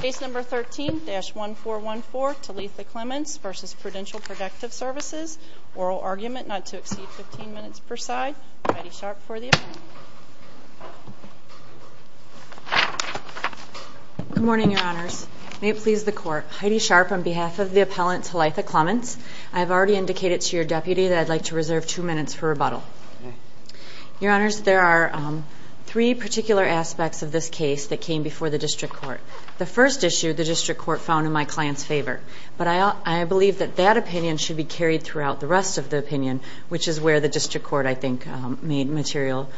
Case No. 13-1414, Thilitha Clements v. Prudential Protective Services, Oral Argument not to exceed 15 minutes per side. Heidi Sharp for the appellant. Good morning, Your Honors. May it please the Court, Heidi Sharp on behalf of the appellant, Thilitha Clements. I've already indicated to your deputy that I'd like to reserve two minutes for rebuttal. Your Honors, there are three particular aspects of this case that came before the District Court. The first issue, the District Court found in my client's favor, but I believe that that opinion should be carried throughout the rest of the opinion, which is where the District Court, I think, made material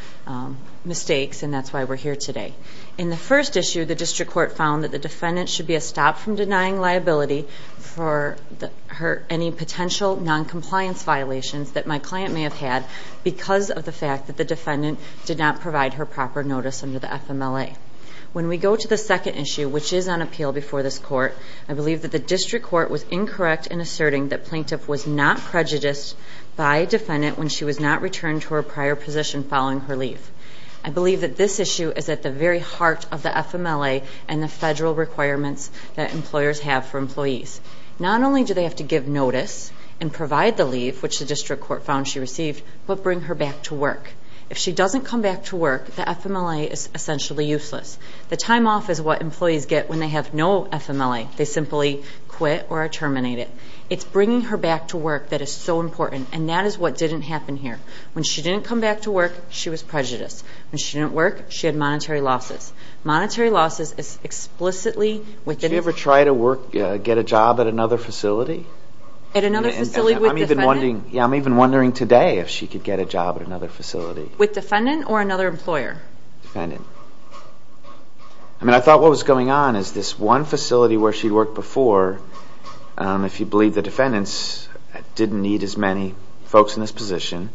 mistakes, and that's why we're here today. In the first issue, the District Court found that the defendant should be stopped from denying liability for any potential noncompliance violations that my client may have had because of the fact that the defendant did not provide her proper notice under the FMLA. When we go to the second issue, which is on appeal before this Court, I believe that the District Court was incorrect in asserting that plaintiff was not prejudiced by a defendant when she was not returned to her prior position following her leave. I believe that this issue is at the very heart of the FMLA and the federal requirements that employers have for employees. Not only do they have to give notice and provide the leave, which the District Court found she received, but bring her back to work. If she doesn't come back to work, the FMLA is essentially useless. The time off is what employees get when they have no FMLA. They simply quit or are terminated. It's bringing her back to work that is so important, and that is what didn't happen here. When she didn't come back to work, she was prejudiced. When she didn't work, she had monetary losses. Monetary losses is explicitly within... Did she ever try to get a job at another facility? At another facility with a defendant? I'm even wondering today if she could get a job at another facility. With defendant or another employer? Defendant. I mean, I thought what was going on is this one facility where she worked before, if you believe the defendants, didn't need as many folks in this position,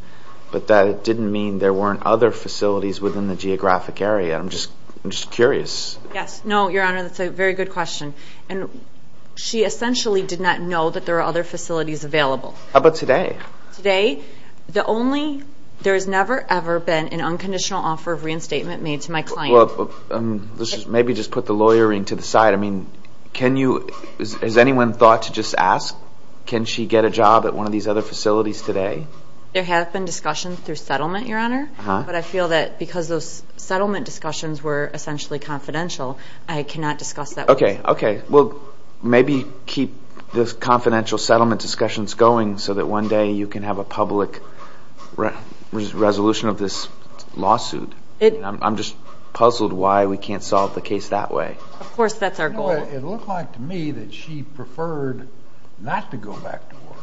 but that didn't mean there weren't other facilities within the geographic area. I'm just curious. Yes. No, Your Honor, that's a very good question. She essentially did not know that there were other facilities available. How about today? Today, the only... There has never, ever been an unconditional offer of reinstatement made to my client. Maybe just put the lawyering to the side. I mean, can you... Has anyone thought to just ask, can she get a job at one of these other facilities today? There have been discussions through settlement, Your Honor, but I feel that because those settlement discussions were essentially confidential, I cannot discuss that with you. Okay. Okay. Well, maybe keep the confidential settlement discussions going so that one day you can have a public resolution of this lawsuit. I'm just puzzled why we can't solve the case that way. Of course, that's our goal. It looked like to me that she preferred not to go back to work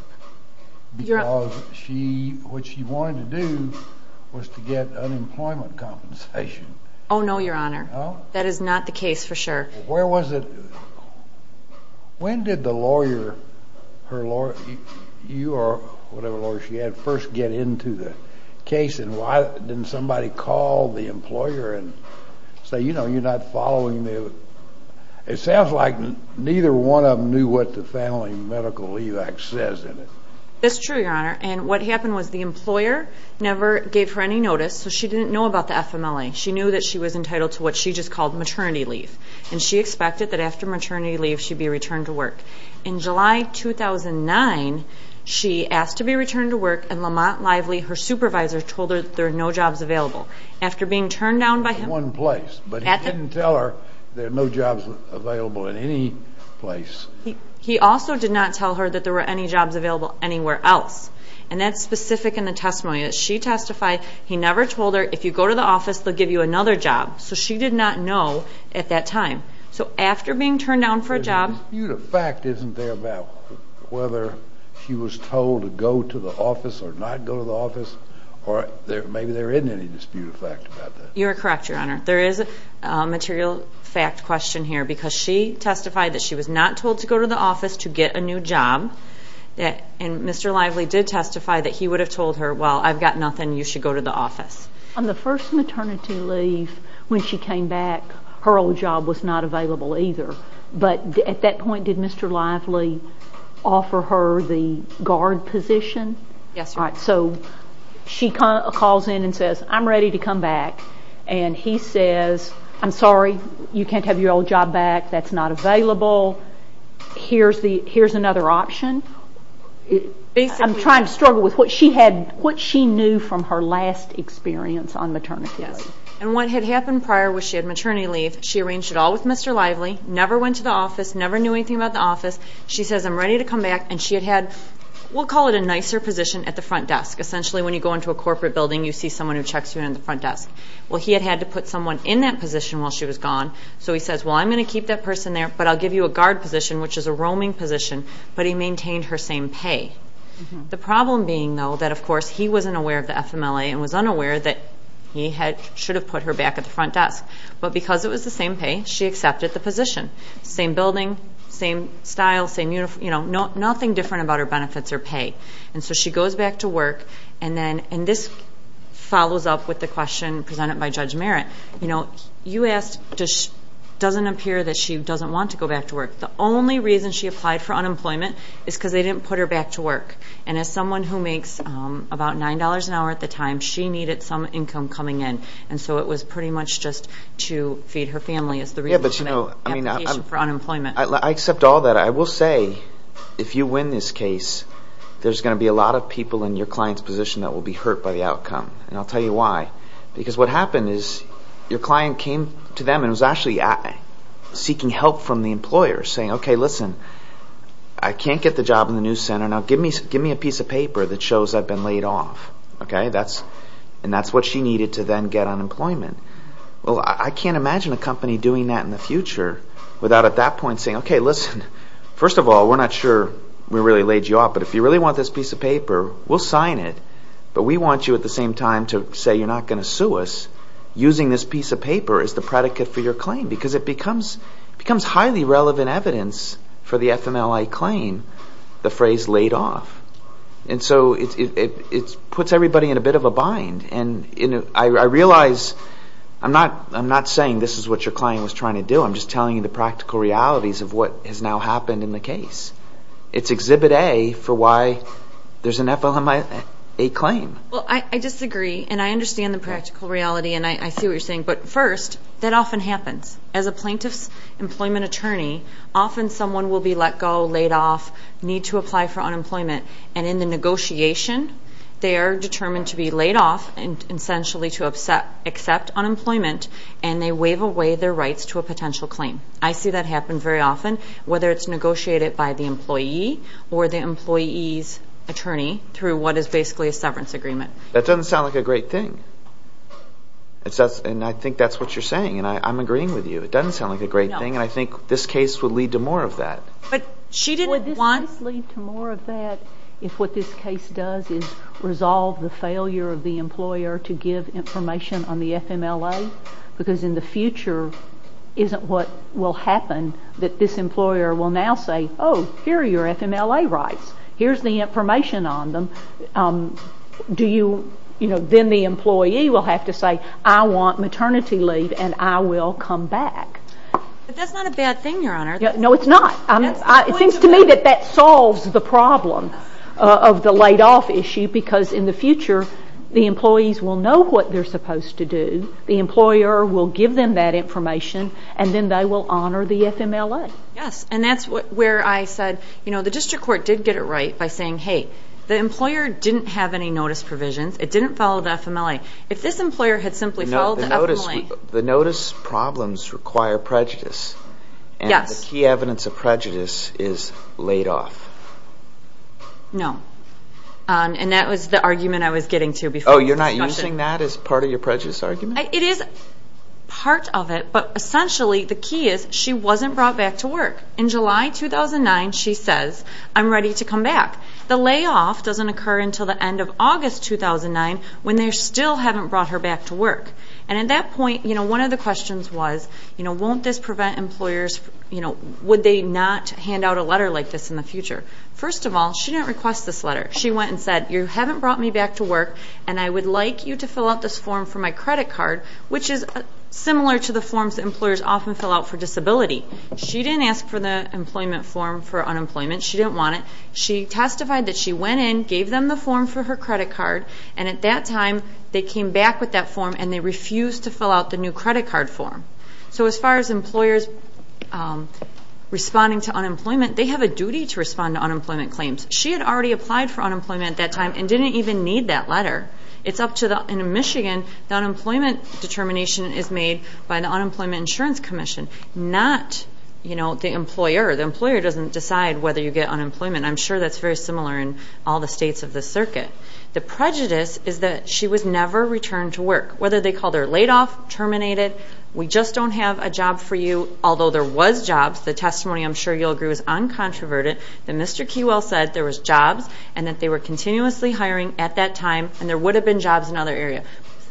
because what she wanted to do was to get unemployment compensation. Oh, no, Your Honor. Oh? That is not the case for sure. Where was it? When did the lawyer, her lawyer, you or whatever lawyer she had, first get into the case, and why didn't somebody call the employer and say, you know, you're not following the... It sounds like neither one of them knew what the Family Medical Leave Act says in it. That's true, Your Honor. And what happened was the employer never gave her any notice, so she didn't know about the FMLA. She knew that she was entitled to what she just called maternity leave, and she expected that after maternity leave she'd be returned to work. In July 2009, she asked to be returned to work, and Lamont Lively, her supervisor, told her that there were no jobs available. After being turned down by him... In one place. But he didn't tell her there were no jobs available in any place. He also did not tell her that there were any jobs available anywhere else. And that's specific in the testimony. She testified he never told her, if you go to the office, they'll give you another job. So she did not know at that time. So after being turned down for a job... There's a dispute of fact, isn't there, about whether she was told to go to the office or not go to the office? Or maybe there isn't any dispute of fact about that. You're correct, Your Honor. There is a material fact question here because she testified that she was not told to go to the office to get a new job, and Mr. Lively did testify that he would have told her, On the first maternity leave, when she came back, her old job was not available either. But at that point, did Mr. Lively offer her the guard position? Yes, Your Honor. So she calls in and says, I'm ready to come back. And he says, I'm sorry, you can't have your old job back. That's not available. Here's another option. I'm trying to struggle with what she knew from her last experience on maternity leave. And what had happened prior was she had maternity leave. She arranged it all with Mr. Lively, never went to the office, never knew anything about the office. She says, I'm ready to come back. And she had had, we'll call it a nicer position, at the front desk. Essentially, when you go into a corporate building, you see someone who checks you in at the front desk. Well, he had had to put someone in that position while she was gone. So he says, well, I'm going to keep that person there, but I'll give you a guard position, which is a roaming position. But he maintained her same pay. The problem being, though, that, of course, he wasn't aware of the FMLA and was unaware that he should have put her back at the front desk. But because it was the same pay, she accepted the position. Same building, same style, same uniform, nothing different about her benefits or pay. And so she goes back to work. And this follows up with the question presented by Judge Merritt. You asked, it doesn't appear that she doesn't want to go back to work. The only reason she applied for unemployment is because they didn't put her back to work. And as someone who makes about $9 an hour at the time, she needed some income coming in. And so it was pretty much just to feed her family is the reason for the application for unemployment. I accept all that. I will say, if you win this case, there's going to be a lot of people in your client's position that will be hurt by the outcome. And I'll tell you why. Because what happened is your client came to them and was actually seeking help from the employer, saying, OK, listen, I can't get the job in the news center. Now give me a piece of paper that shows I've been laid off. And that's what she needed to then get unemployment. Well, I can't imagine a company doing that in the future without at that point saying, OK, listen, first of all, we're not sure we really laid you off. But if you really want this piece of paper, we'll sign it. But we want you at the same time to say you're not going to sue us using this piece of paper as the predicate for your claim. Because it becomes highly relevant evidence for the FMLA claim, the phrase laid off. And so it puts everybody in a bit of a bind. And I realize I'm not saying this is what your client was trying to do. I'm just telling you the practical realities of what has now happened in the case. It's Exhibit A for why there's an FLMA claim. Well, I disagree. And I understand the practical reality. And I see what you're saying. But first, that often happens. As a plaintiff's employment attorney, often someone will be let go, laid off, need to apply for unemployment. And in the negotiation, they are determined to be laid off and essentially to accept unemployment. And they waive away their rights to a potential claim. I see that happen very often, whether it's negotiated by the employee or the employee's attorney through what is basically a severance agreement. That doesn't sound like a great thing. And I think that's what you're saying. And I'm agreeing with you. It doesn't sound like a great thing. And I think this case would lead to more of that. But she didn't want to. Would this lead to more of that if what this case does is resolve the failure of the employer to give information on the FMLA? Because in the future, isn't what will happen that this employer will now say, oh, here are your FMLA rights. Here's the information on them. Do you, you know, then the employee will have to say, I want maternity leave and I will come back. But that's not a bad thing, Your Honor. No, it's not. It seems to me that that solves the problem of the laid off issue. Because in the future, the employees will know what they're supposed to do. The employer will give them that information. And then they will honor the FMLA. Yes. And that's where I said, you know, the district court did get it right by saying, hey, the employer didn't have any notice provisions. It didn't follow the FMLA. If this employer had simply followed the FMLA. The notice problems require prejudice. Yes. And the key evidence of prejudice is laid off. No. And that was the argument I was getting to before. So you're not using that as part of your prejudice argument? It is part of it. But essentially, the key is, she wasn't brought back to work. In July 2009, she says, I'm ready to come back. The layoff doesn't occur until the end of August 2009 when they still haven't brought her back to work. And at that point, you know, one of the questions was, you know, won't this prevent employers, you know, would they not hand out a letter like this in the future? First of all, she didn't request this letter. She went and said, you haven't brought me back to work, and I would like you to fill out this form for my credit card, which is similar to the forms employers often fill out for disability. She didn't ask for the employment form for unemployment. She didn't want it. She testified that she went in, gave them the form for her credit card, and at that time they came back with that form and they refused to fill out the new credit card form. So as far as employers responding to unemployment, they have a duty to respond to unemployment claims. She had already applied for unemployment at that time and didn't even need that letter. In Michigan, the unemployment determination is made by the Unemployment Insurance Commission, not, you know, the employer. The employer doesn't decide whether you get unemployment. I'm sure that's very similar in all the states of the circuit. The prejudice is that she was never returned to work, whether they called her laid off, terminated, we just don't have a job for you, although there was jobs. The testimony, I'm sure you'll agree, was uncontroverted. Mr. Keywell said there was jobs and that they were continuously hiring at that time and there would have been jobs in other areas,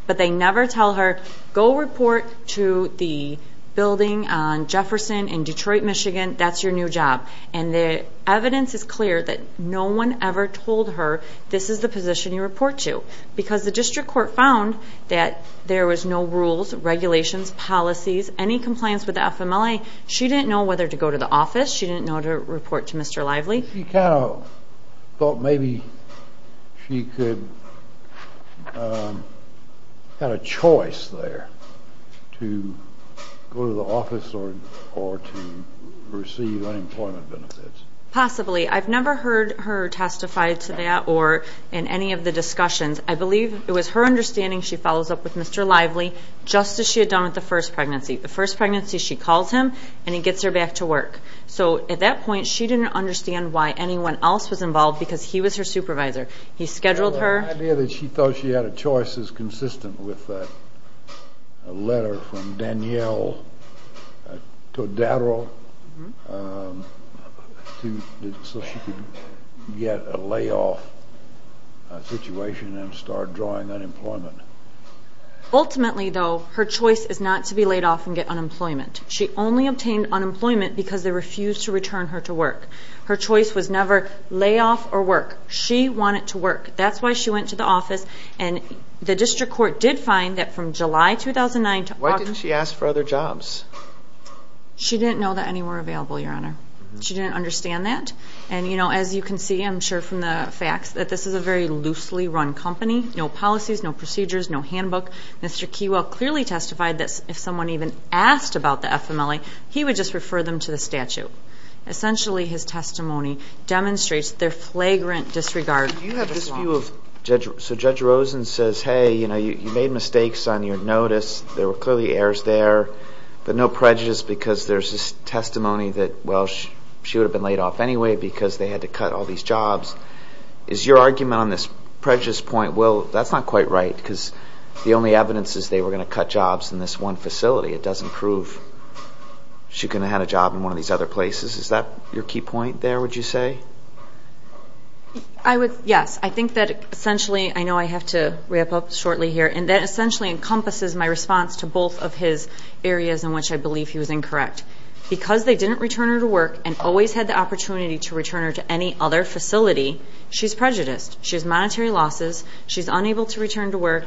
but they never tell her, go report to the building on Jefferson in Detroit, Michigan, that's your new job. And the evidence is clear that no one ever told her this is the position you report to because the district court found that there was no rules, regulations, policies, any compliance with the FMLA. She didn't know whether to go to the office. She didn't know to report to Mr. Lively. She kind of thought maybe she could have a choice there to go to the office or to receive unemployment benefits. Possibly. I've never heard her testify to that or in any of the discussions. I believe it was her understanding she follows up with Mr. Lively just as she had done with the first pregnancy. The first pregnancy she calls him and he gets her back to work. So at that point she didn't understand why anyone else was involved because he was her supervisor. He scheduled her. The idea that she thought she had a choice is consistent with a letter from Danielle Todaro so she could get a layoff situation and start drawing unemployment. Ultimately, though, her choice is not to be laid off and get unemployment. She only obtained unemployment because they refused to return her to work. Her choice was never layoff or work. She wanted to work. That's why she went to the office and the district court did find that from July 2009 to August... Why didn't she ask for other jobs? She didn't know that any were available, Your Honor. She didn't understand that. And, you know, as you can see, I'm sure from the facts, that this is a very loosely run company. No policies, no procedures, no handbook. Mr. Keywell clearly testified that if someone even asked about the FMLA, he would just refer them to the statute. Essentially, his testimony demonstrates their flagrant disregard. So Judge Rosen says, hey, you know, you made mistakes on your notice. There were clearly errors there. But no prejudice because there's this testimony that, well, she would have been laid off anyway because they had to cut all these jobs. Is your argument on this prejudice point, well, that's not quite right because the only evidence is they were going to cut jobs in this one facility. It doesn't prove she could have had a job in one of these other places. Is that your key point there, would you say? Yes. I think that essentially, I know I have to wrap up shortly here, and that essentially encompasses my response to both of his areas in which I believe he was incorrect. Because they didn't return her to work and always had the opportunity to return her to any other facility, she's prejudiced. She has monetary losses. She's unable to return to work.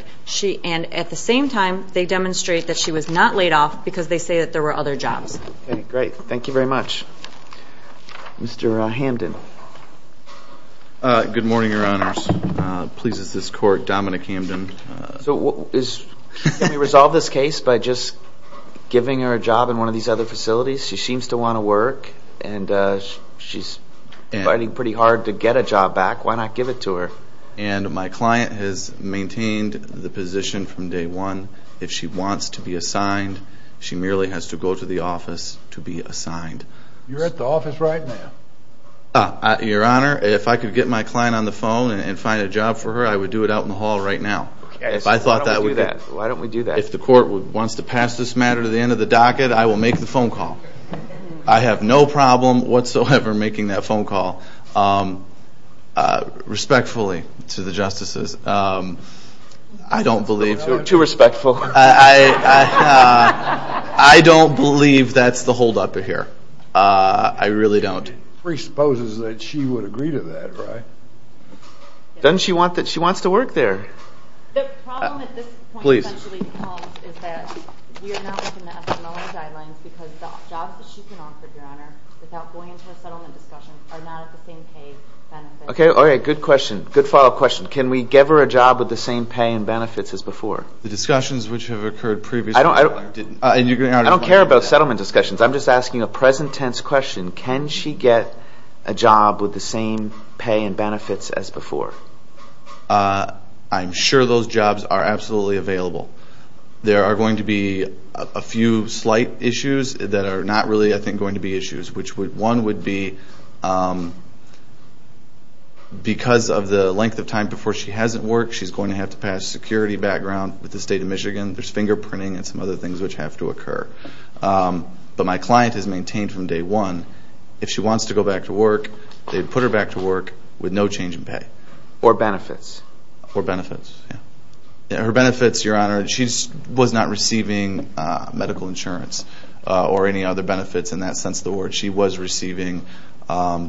And at the same time, they demonstrate that she was not laid off because they say that there were other jobs. Okay, great. Thank you very much. Mr. Hamden. Good morning, Your Honors. Pleases this Court, Dominic Hamden. So can we resolve this case by just giving her a job in one of these other facilities? She seems to want to work, and she's fighting pretty hard to get a job back. Why not give it to her? And my client has maintained the position from day one. If she wants to be assigned, she merely has to go to the office to be assigned. You're at the office right now. Your Honor, if I could get my client on the phone and find a job for her, I would do it out in the hall right now. Why don't we do that? If the Court wants to pass this matter to the end of the docket, I will make the phone call. I have no problem whatsoever making that phone call. Respectfully, to the Justices, I don't believe. Too respectful. I don't believe that's the holdup here. I really don't. Presupposes that she would agree to that, right? Doesn't she want to work there? The problem at this point, essentially, is that we are not looking at the Mellon guidelines because the jobs that she can offer, Your Honor, without going into a settlement discussion, are not at the same pay and benefits. Okay, all right, good follow-up question. Can we give her a job with the same pay and benefits as before? The discussions which have occurred previously didn't. I don't care about settlement discussions. I'm just asking a present-tense question. Can she get a job with the same pay and benefits as before? I'm sure those jobs are absolutely available. There are going to be a few slight issues that are not really, I think, going to be issues, which one would be because of the length of time before she hasn't worked, she's going to have to pass security background with the State of Michigan. There's fingerprinting and some other things which have to occur. But my client has maintained from day one, if she wants to go back to work, they put her back to work with no change in pay. Or benefits. Or benefits, yeah. Her benefits, Your Honor, she was not receiving medical insurance or any other benefits in that sense of the word. She was receiving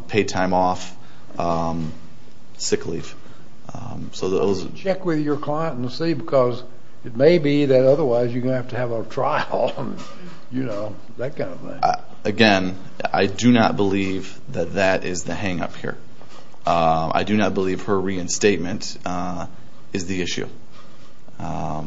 paid time off, sick leave. Check with your client and see because it may be that otherwise you're going to have to have a trial, you know, that kind of thing. Again, I do not believe that that is the hang-up here. I do not believe her reinstatement is the issue. I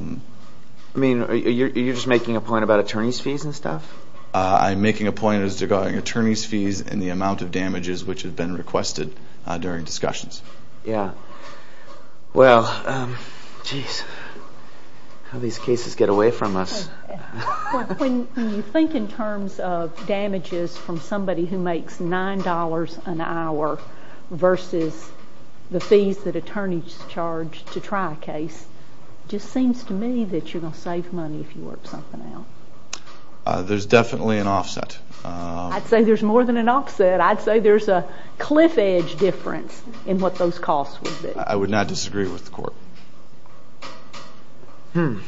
mean, are you just making a point about attorney's fees and stuff? I'm making a point as regarding attorney's fees and the amount of damages which have been requested during discussions. Yeah. Well, geez, how do these cases get away from us? When you think in terms of damages from somebody who makes $9 an hour versus the fees that attorneys charge to try a case, it just seems to me that you're going to save money if you work something out. There's definitely an offset. I'd say there's more than an offset. I'd say there's a cliff edge difference in what those costs would be. I would not disagree with the court. Okay.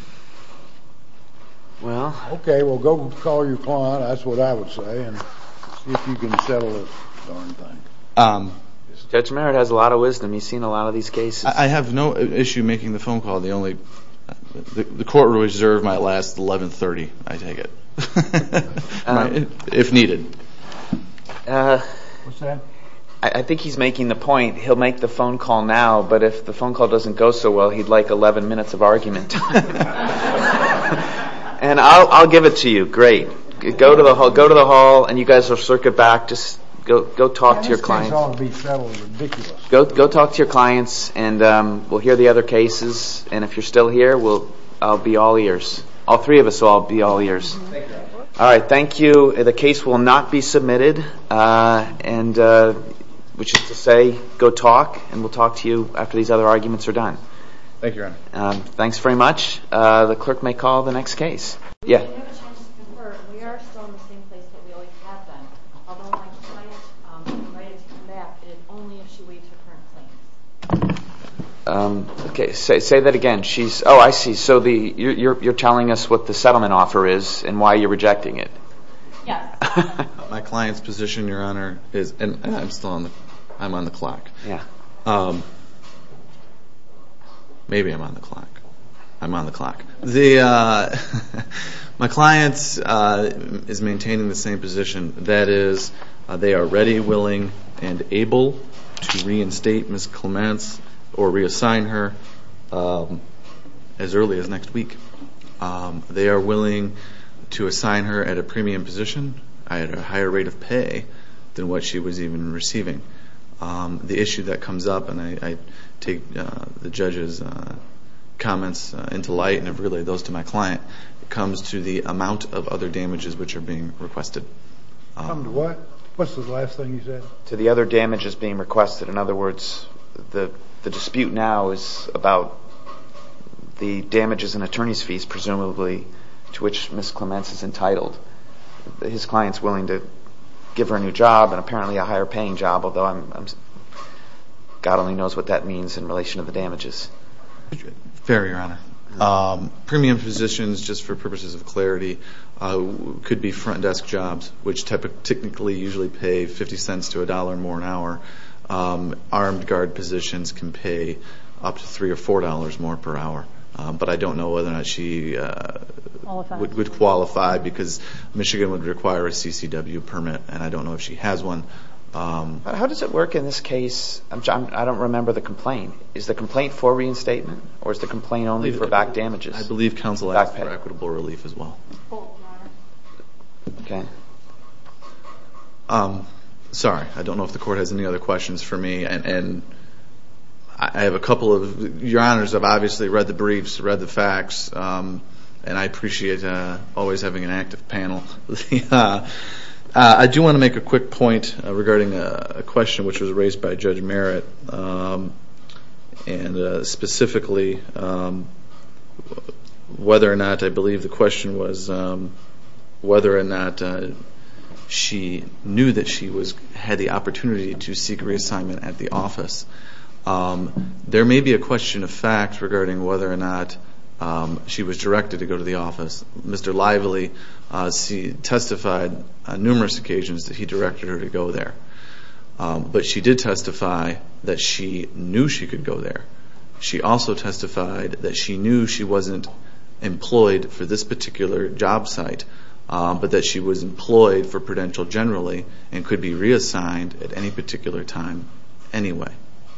Well, go call your client. That's what I would say and see if you can settle this darn thing. Judge Merritt has a lot of wisdom. He's seen a lot of these cases. I have no issue making the phone call. The court will reserve my last 1130, I take it, if needed. What's that? I think he's making the point. He'll make the phone call now, but if the phone call doesn't go so well, he'd like 11 minutes of argument time. And I'll give it to you. Great. Go to the hall, and you guys will circuit back. Just go talk to your clients. Go talk to your clients, and we'll hear the other cases. And if you're still here, I'll be all ears. All three of us will all be all ears. All right, thank you. The case will not be submitted. Which is to say, go talk, and we'll talk to you after these other arguments are done. Thank you, Your Honor. Thanks very much. The clerk may call the next case. We have no chance to confer. We are still in the same place that we always have been. Although my client is invited to come back, it is only if she waives her current claim. Okay, say that again. Oh, I see. So you're telling us what the settlement offer is and why you're rejecting it. Yes. My client's position, Your Honor, is, and I'm still on the clock. Yeah. Maybe I'm on the clock. I'm on the clock. My client is maintaining the same position. That is, they are ready, willing, and able to reinstate Ms. Clements or reassign her as early as next week. They are willing to assign her at a premium position at a higher rate of pay than what she was even receiving. The issue that comes up, and I take the judge's comments into light and have relayed those to my client, comes to the amount of other damages which are being requested. Come to what? What's the last thing you said? To the other damages being requested. In other words, the dispute now is about the damages and attorney's fees, presumably, to which Ms. Clements is entitled. His client's willing to give her a new job and apparently a higher-paying job, although God only knows what that means in relation to the damages. Fair, Your Honor. Premium positions, just for purposes of clarity, could be front desk jobs, which technically usually pay $0.50 to $1 more an hour. Armed guard positions can pay up to $3 or $4 more per hour. But I don't know whether or not she would qualify because Michigan would require a CCW permit, and I don't know if she has one. How does it work in this case? I don't remember the complaint. Is the complaint for reinstatement, or is the complaint only for back damages? I believe counsel asked for equitable relief as well. Okay. Sorry, I don't know if the Court has any other questions for me. And I have a couple of, Your Honors, I've obviously read the briefs, read the facts, and I appreciate always having an active panel. I do want to make a quick point regarding a question which was raised by Judge Merritt, and specifically whether or not, I believe the question was whether or not she knew that she had the opportunity to seek reassignment at the office. There may be a question of fact regarding whether or not she was directed to go to the office. Mr. Lively testified on numerous occasions that he directed her to go there. But she did testify that she knew she could go there. She also testified that she knew she wasn't employed for this particular job site, but that she was employed for Prudential generally and could be reassigned at any particular time anyway.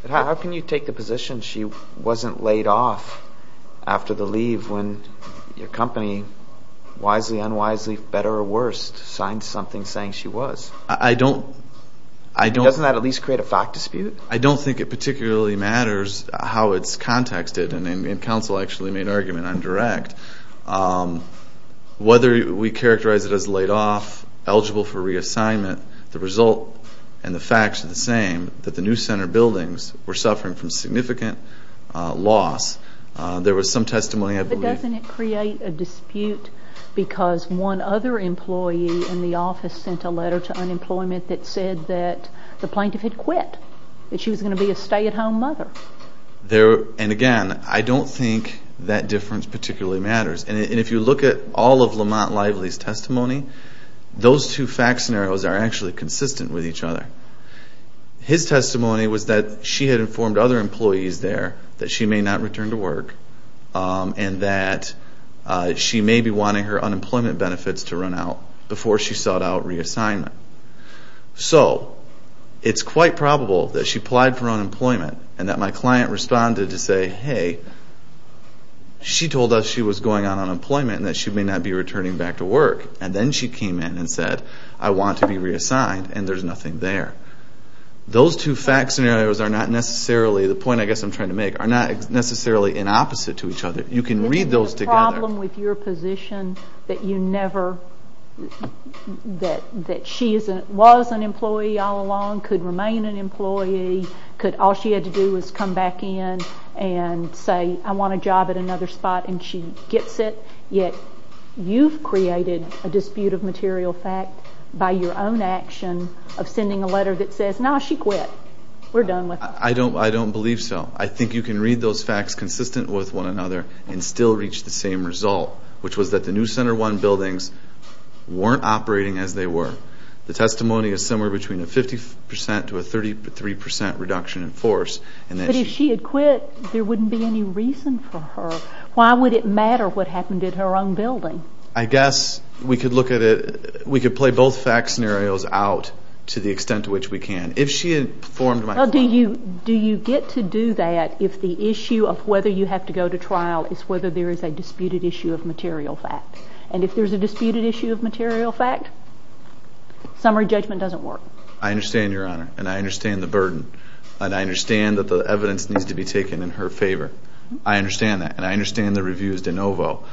How can you take the position she wasn't laid off after the leave when your company, wisely, unwisely, better or worse, signed something saying she was? Doesn't that at least create a fact dispute? I don't think it particularly matters how it's contexted, and counsel actually made an argument on direct. Whether we characterize it as laid off, eligible for reassignment, the result and the facts are the same, that the new center buildings were suffering from significant loss. There was some testimony, I believe. Doesn't it create a dispute because one other employee in the office sent a letter to unemployment that said that the plaintiff had quit, that she was going to be a stay-at-home mother? And again, I don't think that difference particularly matters. And if you look at all of Lamont Lively's testimony, those two fact scenarios are actually consistent with each other. His testimony was that she had informed other employees there that she may not return to work and that she may be wanting her unemployment benefits to run out before she sought out reassignment. So it's quite probable that she applied for unemployment and that my client responded to say, hey, she told us she was going on unemployment and that she may not be returning back to work. And then she came in and said, I want to be reassigned, and there's nothing there. Those two fact scenarios are not necessarily, the point I guess I'm trying to make, are not necessarily in opposite to each other. You can read those together. Isn't there a problem with your position that you never, that she was an employee all along, could remain an employee, all she had to do was come back in and say, I want a job at another spot, and she gets it, yet you've created a dispute of material fact by your own action of sending a letter that says, no, she quit, we're done with her. I don't believe so. I think you can read those facts consistent with one another and still reach the same result, which was that the new Center One buildings weren't operating as they were. The testimony is somewhere between a 50 percent to a 33 percent reduction in force. But if she had quit, there wouldn't be any reason for her. Why would it matter what happened at her own building? I guess we could look at it, we could play both fact scenarios out to the extent to which we can. Do you get to do that if the issue of whether you have to go to trial is whether there is a disputed issue of material fact? And if there's a disputed issue of material fact, summary judgment doesn't work. I understand, Your Honor, and I understand the burden, and I understand that the evidence needs to be taken in her favor. I understand that, and I understand the reviews de novo.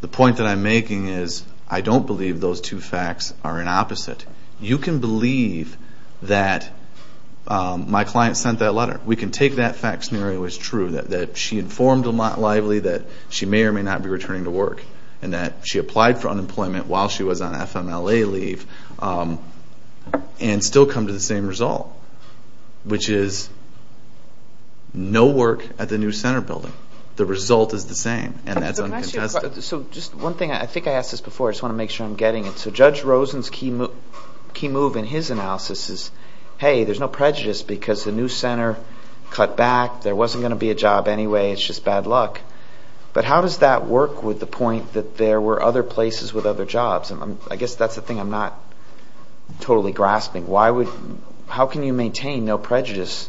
The point that I'm making is I don't believe those two facts are an opposite. You can believe that my client sent that letter. We can take that fact scenario as true, that she informed Lamont Lively that she may or may not be returning to work, and that she applied for unemployment while she was on FMLA leave and still come to the same result, which is no work at the new center building. The result is the same, and that's uncontested. So just one thing, I think I asked this before. I just want to make sure I'm getting it. So Judge Rosen's key move in his analysis is, hey, there's no prejudice because the new center cut back. There wasn't going to be a job anyway. It's just bad luck. But how does that work with the point that there were other places with other jobs? I guess that's the thing I'm not totally grasping. How can you maintain no prejudice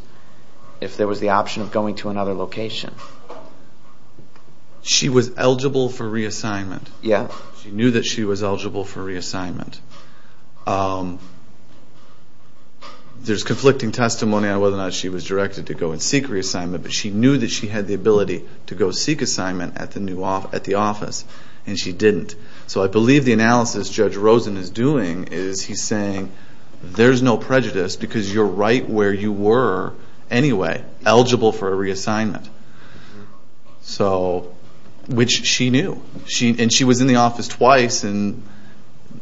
if there was the option of going to another location? She was eligible for reassignment. She knew that she was eligible for reassignment. There's conflicting testimony on whether or not she was directed to go and seek reassignment, but she knew that she had the ability to go seek assignment at the office, and she didn't. So I believe the analysis Judge Rosen is doing is he's saying, there's no prejudice because you're right where you were anyway, eligible for a reassignment, which she knew. And she was in the office twice and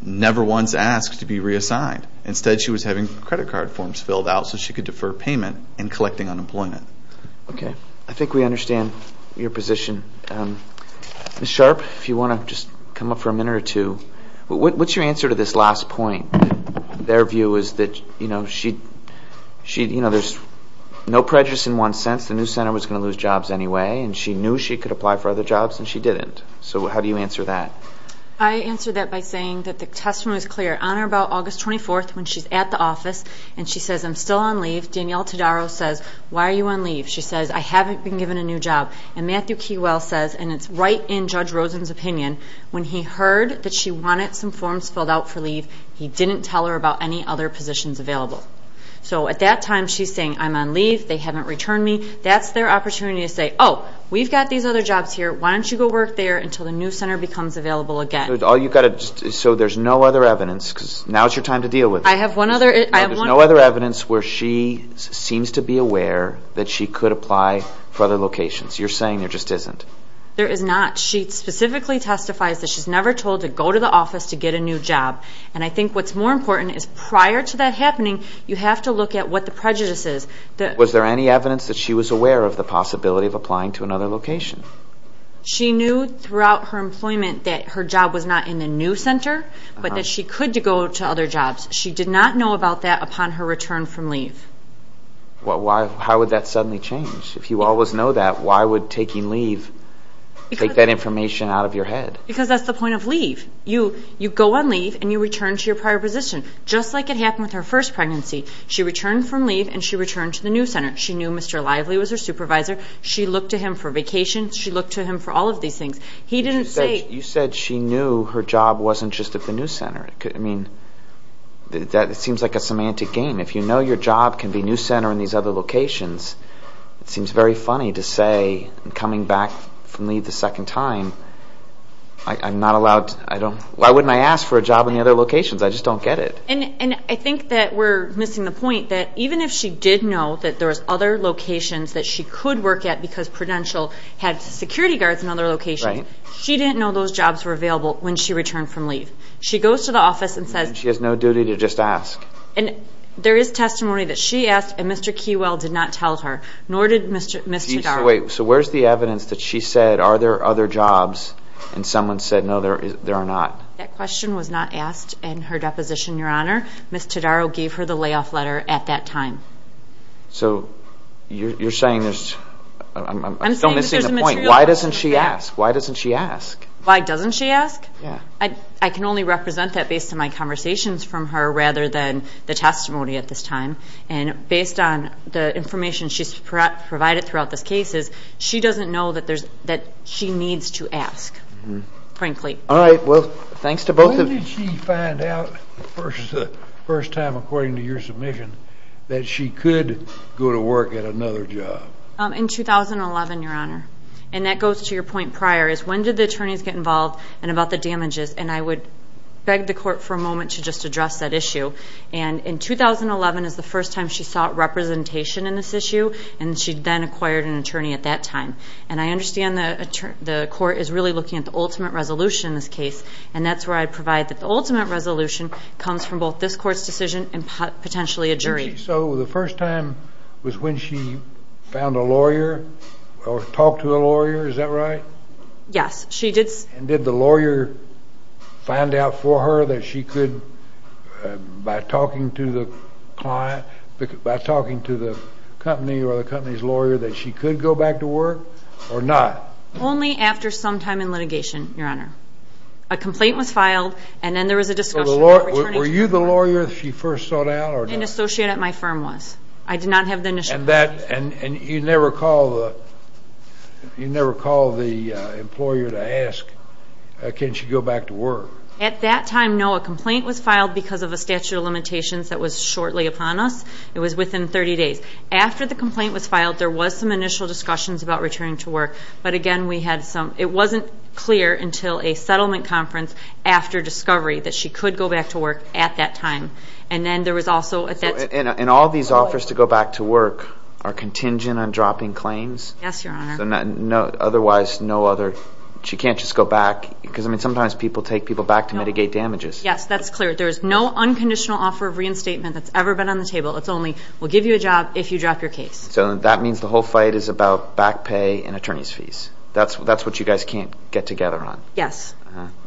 never once asked to be reassigned. Instead, she was having credit card forms filled out so she could defer payment and collecting unemployment. Okay. I think we understand your position. Ms. Sharp, if you want to just come up for a minute or two, what's your answer to this last point? Their view is that there's no prejudice in one sense. The new center was going to lose jobs anyway, and she knew she could apply for other jobs and she didn't. So how do you answer that? I answer that by saying that the testimony was clear. On or about August 24th, when she's at the office and she says, I'm still on leave, Danielle Todaro says, Why are you on leave? She says, I haven't been given a new job. And Matthew Keywell says, and it's right in Judge Rosen's opinion, when he heard that she wanted some forms filled out for leave, he didn't tell her about any other positions available. So at that time, she's saying, I'm on leave, they haven't returned me. That's their opportunity to say, Oh, we've got these other jobs here. Why don't you go work there until the new center becomes available again? So there's no other evidence, because now is your time to deal with it. I have one other. There's no other evidence where she seems to be aware that she could apply for other locations. You're saying there just isn't. There is not. She specifically testifies that she's never told to go to the office to get a new job. And I think what's more important is prior to that happening, you have to look at what the prejudice is. Was there any evidence that she was aware of the possibility of applying to another location? She knew throughout her employment that her job was not in the new center, but that she could go to other jobs. She did not know about that upon her return from leave. How would that suddenly change? If you always know that, why would taking leave take that information out of your head? Because that's the point of leave. You go on leave, and you return to your prior position, just like it happened with her first pregnancy. She returned from leave, and she returned to the new center. She knew Mr. Lively was her supervisor. She looked to him for vacations. She looked to him for all of these things. You said she knew her job wasn't just at the new center. It seems like a semantic game. If you know your job can be new center in these other locations, it seems very funny to say, coming back from leave the second time, why wouldn't I ask for a job in the other locations? I just don't get it. I think that we're missing the point, that even if she did know that there was other locations that she could work at because Prudential had security guards in other locations, she didn't know those jobs were available when she returned from leave. She goes to the office and says— She has no duty to just ask. There is testimony that she asked, and Mr. Keywell did not tell her, nor did Ms. Todaro. Wait, so where's the evidence that she said, are there other jobs, and someone said, no, there are not? That question was not asked in her deposition, Your Honor. Ms. Todaro gave her the layoff letter at that time. So you're saying there's—I'm still missing the point. Why doesn't she ask? Why doesn't she ask? Why doesn't she ask? I can only represent that based on my conversations from her rather than the testimony at this time. And based on the information she's provided throughout this case is she doesn't know that she needs to ask, frankly. All right, well, thanks to both of you. When did she find out the first time, according to your submission, that she could go to work at another job? In 2011, Your Honor, and that goes to your point prior, is when did the attorneys get involved and about the damages, and I would beg the court for a moment to just address that issue. In 2011 is the first time she sought representation in this issue, and she then acquired an attorney at that time. And I understand the court is really looking at the ultimate resolution in this case, and that's where I'd provide that the ultimate resolution comes from both this court's decision and potentially a jury. So the first time was when she found a lawyer or talked to a lawyer, is that right? Yes, she did. And did the lawyer find out for her that she could, by talking to the client, by talking to the company or the company's lawyer, that she could go back to work or not? Only after some time in litigation, Your Honor. A complaint was filed, and then there was a discussion. Were you the lawyer she first sought out or not? An associate at my firm was. I did not have the initial consultation. And you never called the employer to ask, can she go back to work? At that time, no. A complaint was filed because of a statute of limitations that was shortly upon us. It was within 30 days. After the complaint was filed, there was some initial discussions about returning to work. But again, it wasn't clear until a settlement conference after discovery that she could go back to work at that time. And all these offers to go back to work are contingent on dropping claims? Yes, Your Honor. Otherwise, she can't just go back? Because sometimes people take people back to mitigate damages. Yes, that's clear. There is no unconditional offer of reinstatement that's ever been on the table. It's only, we'll give you a job if you drop your case. So that means the whole fight is about back pay and attorney's fees? That's what you guys can't get together on? Yes.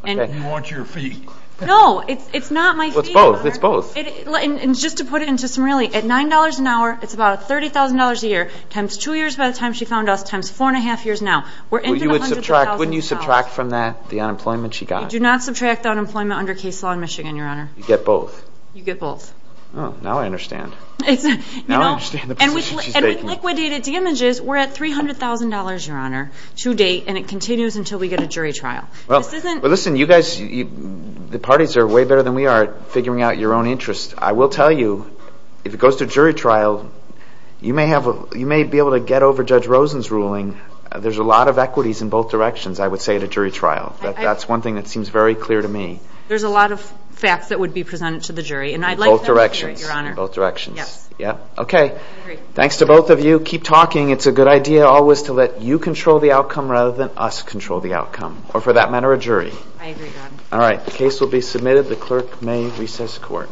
You want your fee? No, it's not my fee. It's both. It's both. And just to put it into some really, at $9 an hour, it's about $30,000 a year, times two years by the time she found us, times four and a half years now. Wouldn't you subtract from that the unemployment she got? I do not subtract unemployment under case law in Michigan, Your Honor. You get both? You get both. Oh, now I understand. Now I understand the position she's taking. And with liquidated damages, we're at $300,000, Your Honor, to date, and it continues until we get a jury trial. Well, listen, you guys, the parties are way better than we are at figuring out your own interests. I will tell you, if it goes to a jury trial, you may be able to get over Judge Rosen's ruling. There's a lot of equities in both directions, I would say, at a jury trial. That's one thing that seems very clear to me. There's a lot of facts that would be presented to the jury, and I'd like them to hear it, Your Honor. In both directions. Yes. Okay. I agree. Thanks to both of you. Keep talking. It's a good idea always to let you control the outcome rather than us control the outcome, or for that matter, a jury. I agree, Your Honor. All right. The case will be submitted. The clerk may recess court.